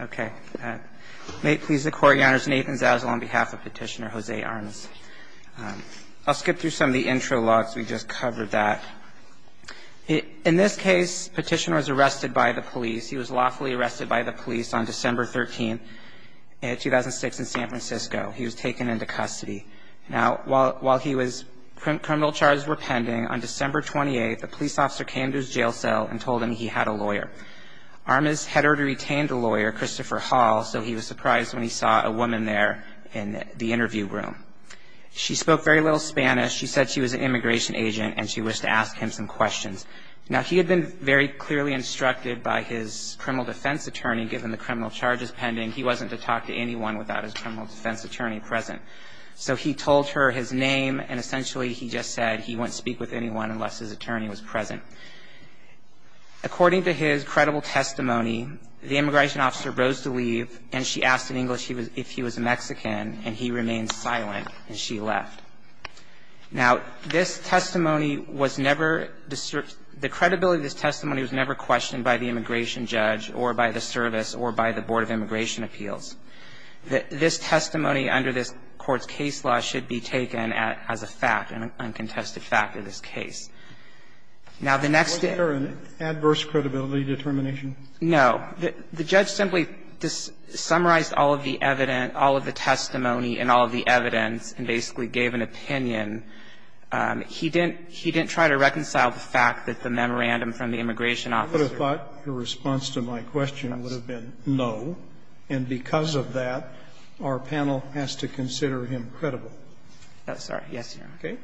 Okay. May it please the Court, Your Honors, Nathan Zazzal on behalf of Petitioner Jose Armas. I'll skip through some of the intro logs. We just covered that. In this case, Petitioner was arrested by the police. He was lawfully arrested by the police on December 13, 2006, in San Francisco. He was taken into custody. Now, while he was criminal charges were pending, on December 28, a police officer came to his jail cell and told him he had a lawyer. Armas had already retained a lawyer, Christopher Hall, so he was surprised when he saw a woman there in the interview room. She spoke very little Spanish. She said she was an immigration agent, and she wished to ask him some questions. Now, he had been very clearly instructed by his criminal defense attorney, given the criminal charges pending, he wasn't to talk to anyone without his criminal defense attorney present. So he told her his name, and essentially he just said he wouldn't speak with anyone unless his attorney was present. According to his credible testimony, the immigration officer rose to leave, and she asked in English if he was Mexican, and he remained silent, and she left. Now, this testimony was never the credibility of this testimony was never questioned by the immigration judge or by the service or by the Board of Immigration Appeals. This testimony under this Court's case law should be taken as a fact, an uncontested fact of this case. Now, the next thing. Scalia, was there an adverse credibility determination? No. The judge simply summarized all of the evidence, all of the testimony and all of the evidence, and basically gave an opinion. He didn't try to reconcile the fact that the memorandum from the immigration officer. I would have thought your response to my question would have been no, and because of that, our panel has to consider him credible. Oh, sorry. Yes, Your Honor.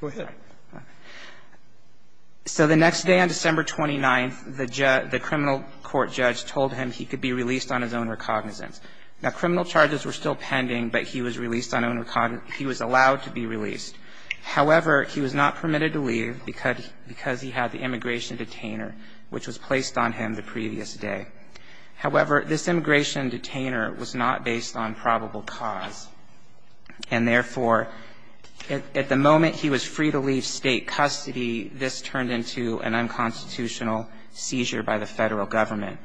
Go ahead. So the next day on December 29th, the criminal court judge told him he could be released on his own recognizance. Now, criminal charges were still pending, but he was released on his own recognizance he was allowed to be released. However, he was not permitted to leave because he had the immigration detainer, which was placed on him the previous day. However, this immigration detainer was not based on probable cause, and therefore, at the moment he was free to leave State custody, this turned into an unconstitutional seizure by the Federal Government.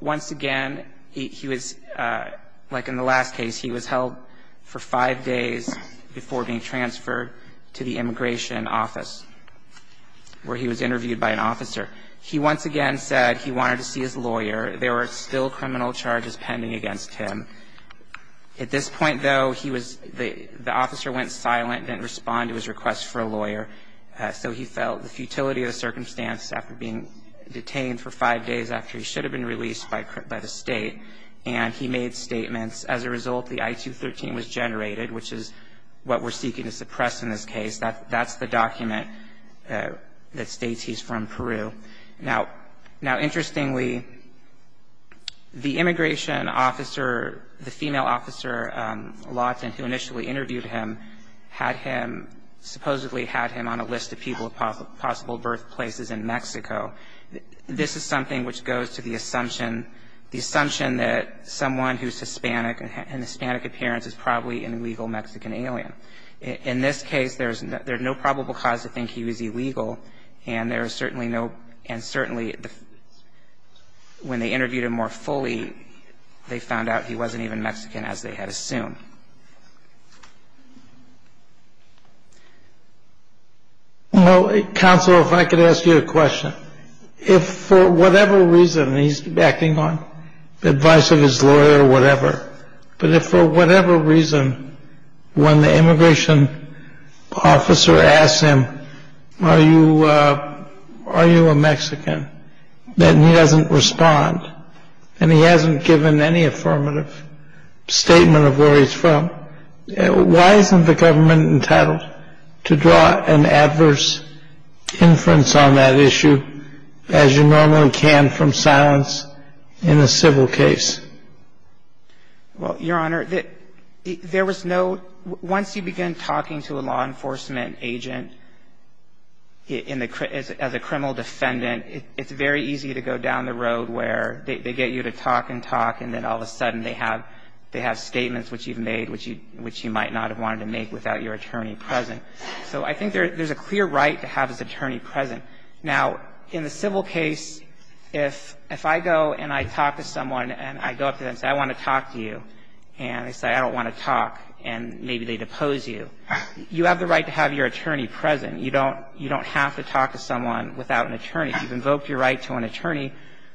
Once again, he was, like in the last case, he was held for five days before being transferred to the immigration office, where he was interviewed by an officer. He once again said he wanted to see his lawyer. There were still criminal charges pending against him. At this point, though, he was the officer went silent and didn't respond to his request for a lawyer. So he felt the futility of the circumstance after being detained for five days after he should have been released by the State, and he made statements. As a result, the I-213 was generated, which is what we're seeking to suppress in this case. That's the document that states he's from Peru. Now, interestingly, the immigration officer, the female officer, Lawton, who initially interviewed him, had him, supposedly had him on a list of people of possible birthplaces in Mexico. This is something which goes to the assumption, the assumption that someone who's Hispanic and has an Hispanic appearance is probably an illegal Mexican alien. In this case, there's no probable cause to think he was illegal, and there is certainly no, and certainly when they interviewed him more fully, they found out he wasn't even Mexican, as they had assumed. Well, counsel, if I could ask you a question. If for whatever reason, and he's acting on the advice of his lawyer or whatever, but if for whatever reason, when the immigration officer asks him, are you, are you a Mexican, that he doesn't respond, and he hasn't given any affirmative statement of where he's from, why isn't the government entitled to draw an adverse inference on that issue as you normally can from silence in a civil case? Well, Your Honor, there was no — once you begin talking to a law enforcement agent as a criminal defendant, it's very easy to go down the road where they get you to talk and talk, and then all of a sudden they have statements which you've made which you might not have wanted to make without your attorney present. So I think there's a clear right to have his attorney present. Now, in the civil case, if I go and I talk to someone and I go up to them and say, I want to talk to you, and they say, I don't want to talk, and maybe they depose you, you have the right to have your attorney present. You don't have to talk to someone without an attorney. You've invoked your right to an attorney.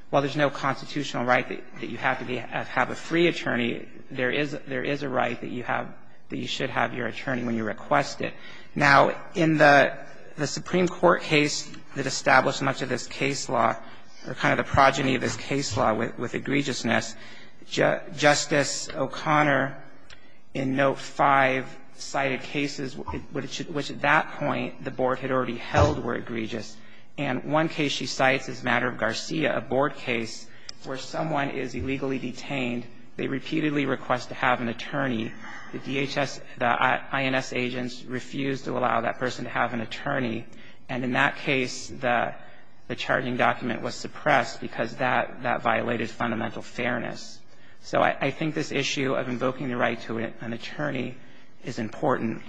While there's no constitutional right that you have to have a free attorney, there is a right that you have, that you should have your attorney when you request it. Now, in the Supreme Court case that established much of this case law, or kind of the which at that point the board had already held were egregious, and one case she cites is Matter of Garcia, a board case where someone is illegally detained. They repeatedly request to have an attorney. The DHS, the INS agents refused to allow that person to have an attorney. And in that case, the charging document was suppressed because that violated fundamental fairness. So I think this issue of invoking the right to an attorney is important.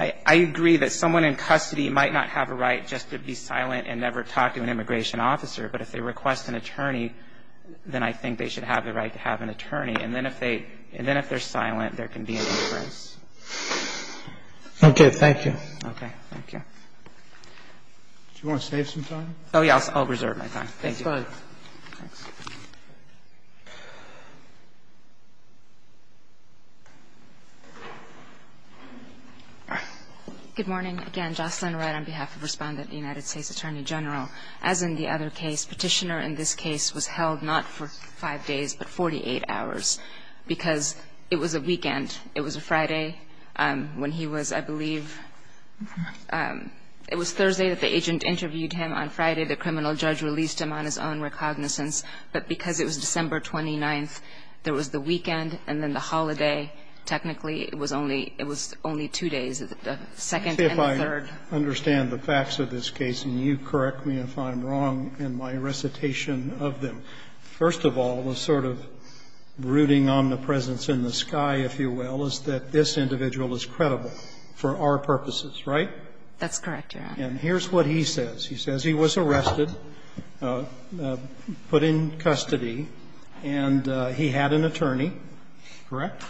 I agree that someone in custody might not have a right just to be silent and never talk to an immigration officer, but if they request an attorney, then I think they should have the right to have an attorney. And then if they're silent, there can be a difference. Okay. Thank you. Okay. Thank you. Do you want to save some time? Oh, yes. I'll reserve my time. Thank you. That's fine. Thanks. Good morning. Again, Jocelyn Wright on behalf of Respondent of the United States Attorney General. As in the other case, Petitioner in this case was held not for five days but 48 hours because it was a weekend. It was a Friday when he was, I believe, it was Thursday that the agent interviewed him. On Friday, the criminal judge released him on his own recognizance. But because it was December 29th, there was the weekend and then the holiday, technically it was only two days, the second and the third. Let me see if I understand the facts of this case, and you correct me if I'm wrong in my recitation of them. First of all, the sort of brooding omnipresence in the sky, if you will, is that this individual is credible for our purposes, right? That's correct, Your Honor. And here's what he says. He says he was arrested, put in custody, and he had an attorney, correct?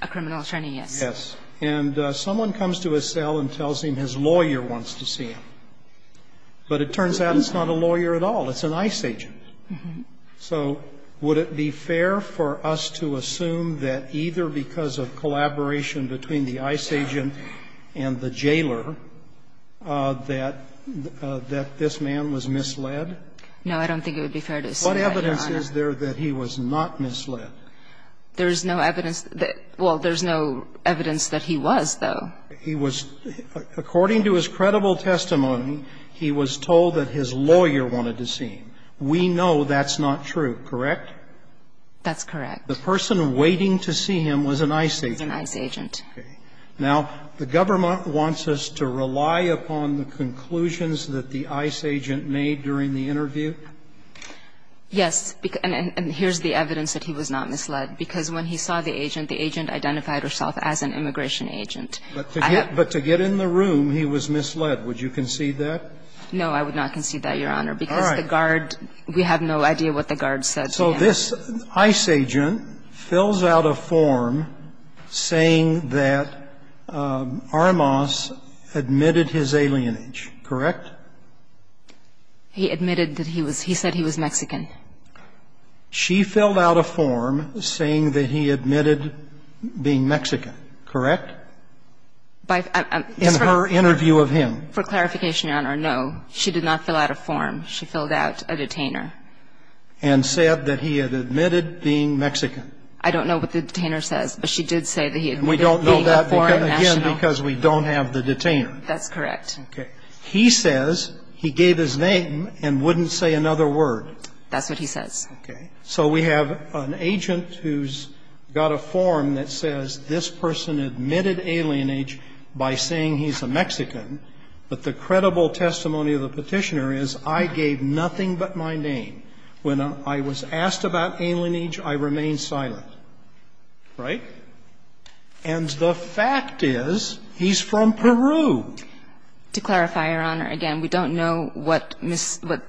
A criminal attorney, yes. Yes. And someone comes to his cell and tells him his lawyer wants to see him. But it turns out it's not a lawyer at all. It's an ICE agent. So would it be fair for us to assume that either because of collaboration between the ICE agent and the jailer that this man was misled? No, I don't think it would be fair to assume that, Your Honor. What evidence is there that he was not misled? There is no evidence that he was, though. According to his credible testimony, he was told that his lawyer wanted to see him. We know that's not true, correct? That's correct. The person waiting to see him was an ICE agent. Okay. Now, the government wants us to rely upon the conclusions that the ICE agent made during the interview? Yes. And here's the evidence that he was not misled, because when he saw the agent, the agent identified herself as an immigration agent. But to get in the room, he was misled. Would you concede that? No, I would not concede that, Your Honor, because the guard, we have no idea what the guard said to him. So this ICE agent fills out a form saying that Armas admitted his alienage, correct? He admitted that he was he said he was Mexican. She filled out a form saying that he admitted being Mexican, correct, in her interview of him? For clarification, Your Honor, no. She did not fill out a form. She filled out a detainer. And said that he had admitted being Mexican. I don't know what the detainer says, but she did say that he admitted being a foreign national. And we don't know that, again, because we don't have the detainer. That's correct. Okay. He says he gave his name and wouldn't say another word. That's what he says. Okay. So we have an agent who's got a form that says this person admitted alienage by saying he's a Mexican, but the credible testimony of the Petitioner is I gave nothing but my name. When I was asked about alienage, I remained silent. Right? And the fact is he's from Peru. To clarify, Your Honor, again, we don't know what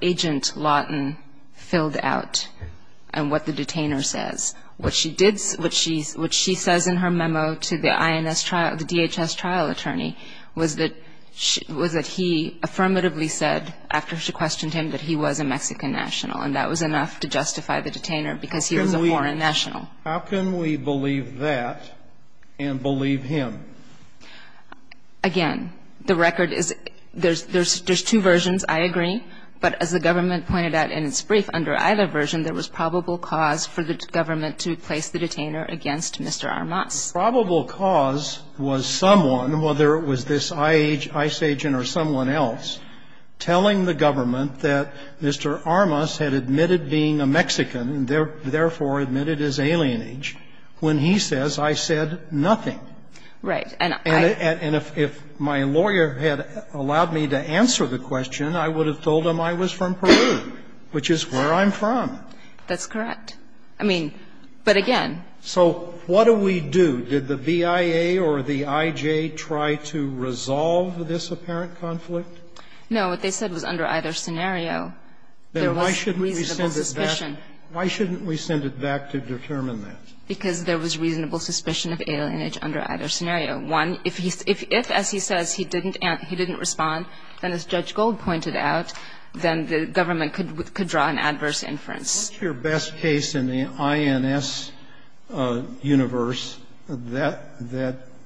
Agent Lawton filled out and what the detainer says. What she did, what she says in her memo to the INS trial, the DHS trial attorney, was that he affirmatively said, after she questioned him, that he was a Mexican national. And that was enough to justify the detainer, because he was a foreign national. How can we believe that and believe him? Again, the record is there's two versions. I agree. But as the government pointed out in its brief, under either version, there was probable cause for the government to place the detainer against Mr. Armas. The probable cause was someone, whether it was this ICE agent or someone else, telling the government that Mr. Armas had admitted being a Mexican, therefore admitted his alienage, when he says, I said nothing. Right. And if my lawyer had allowed me to answer the question, I would have told him I was from Peru, which is where I'm from. That's correct. I mean, but again. So what do we do? Did the BIA or the IJ try to resolve this apparent conflict? No. What they said was under either scenario, there was reasonable suspicion. Then why shouldn't we send it back? Why shouldn't we send it back to determine that? Because there was reasonable suspicion of alienage under either scenario. One, if he's ‑‑ if, as he says, he didn't respond, then as Judge Gold pointed out, then the government could draw an adverse inference. What's your best case in the INS universe that ‑‑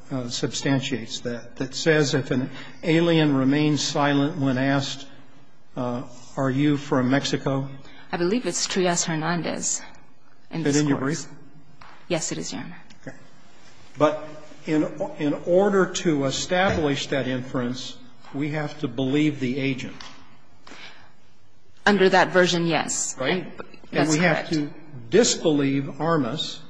that substantiates that, that says if an alien remains silent when asked, are you from Mexico? I believe it's Trias Hernandez in this case. Is it in your brief? Yes, it is, Your Honor. Okay. But in order to establish that inference, we have to believe the agent. Under that version, yes. That's correct. And we have to disbelieve Armas.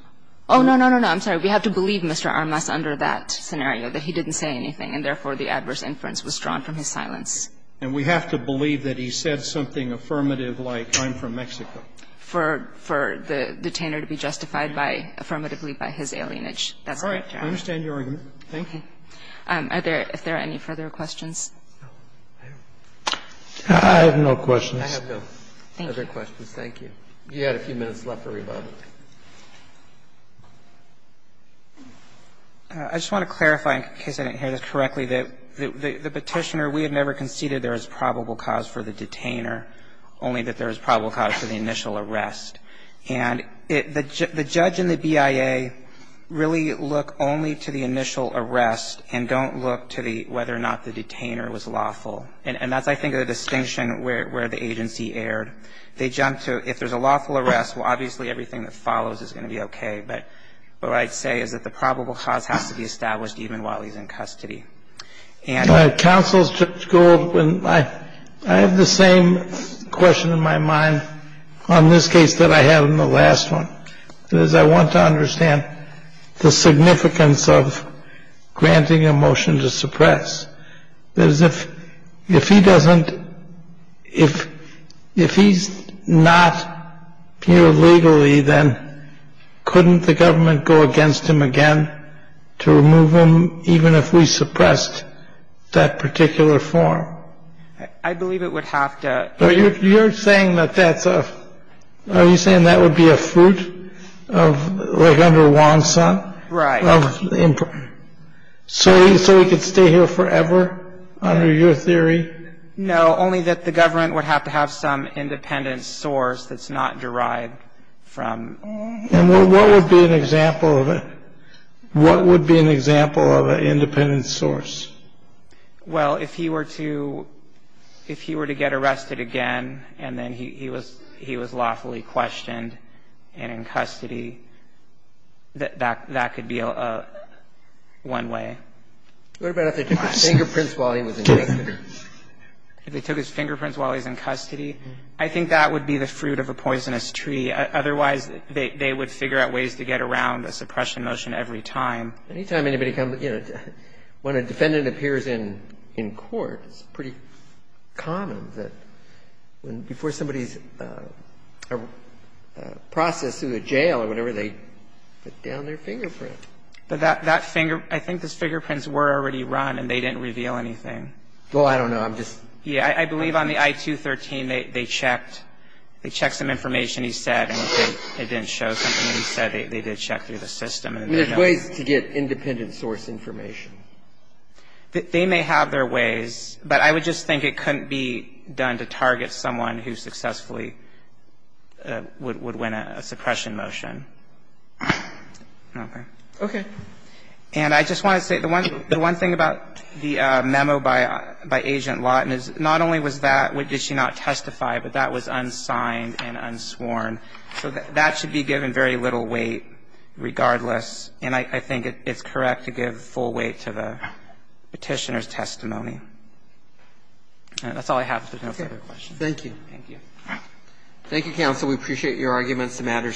Oh, no, no, no, no. I'm sorry. We have to believe Mr. Armas under that scenario, that he didn't say anything and, therefore, the adverse inference was drawn from his silence. And we have to believe that he said something affirmative like, I'm from Mexico. For the detainer to be justified by ‑‑ affirmatively by his alienage. That's correct, Your Honor. All right. I understand your argument. Thank you. Are there ‑‑ if there are any further questions? I have no questions. I have no other questions. Thank you. You had a few minutes left for rebuttal. I just want to clarify, in case I didn't hear this correctly, that the petitioner ‑‑ we had never conceded there was probable cause for the detainer, only that there was probable cause for the initial arrest. And the judge and the BIA really look only to the initial arrest and don't look to whether or not the detainer was lawful. And that's, I think, a distinction where the agency erred. They jumped to, if there's a lawful arrest, well, obviously everything that follows is going to be okay. But what I'd say is that the probable cause has to be established even while he's in custody. And ‑‑ Counsel, Judge Gould, I have the same question in my mind on this case that I had on the last one. If he doesn't ‑‑ if he's not here legally, then couldn't the government go against him again to remove him even if we suppressed that particular form? I believe it would have to ‑‑ You're saying that that's a ‑‑ are you saying that would be a fruit of, like under WANSA? Right. So he could stay here forever under your theory? No, only that the government would have to have some independent source that's not derived from ‑‑ And what would be an example of it? What would be an example of an independent source? Well, if he were to ‑‑ if he were to get arrested again and then he was lawfully questioned and in custody, that could be one way. What about if they took his fingerprints while he was in custody? If they took his fingerprints while he was in custody, I think that would be the fruit of a poisonous tree. Otherwise, they would figure out ways to get around the suppression motion every time. Any time anybody comes ‑‑ when a defendant appears in court, it's pretty common that before somebody's processed through the jail or whatever, they put down their fingerprint. But that finger ‑‑ I think those fingerprints were already run and they didn't reveal anything. Well, I don't know. I'm just ‑‑ Yeah. I believe on the I-213, they checked. They checked some information he said, and it didn't show something that he said they did check through the system. There's ways to get independent source information. They may have their ways, but I would just think it couldn't be done to target someone who successfully would win a suppression motion. Okay. Okay. And I just want to say, the one thing about the memo by Agent Lawton is not only was that, did she not testify, but that was unsigned and unsworn. So that should be given very little weight regardless, and I think it's correct to give full weight to the petitioner's testimony. That's all I have. If there's no further questions. Okay. Thank you. Thank you. Thank you, counsel. We appreciate your arguments. The matter is submitted.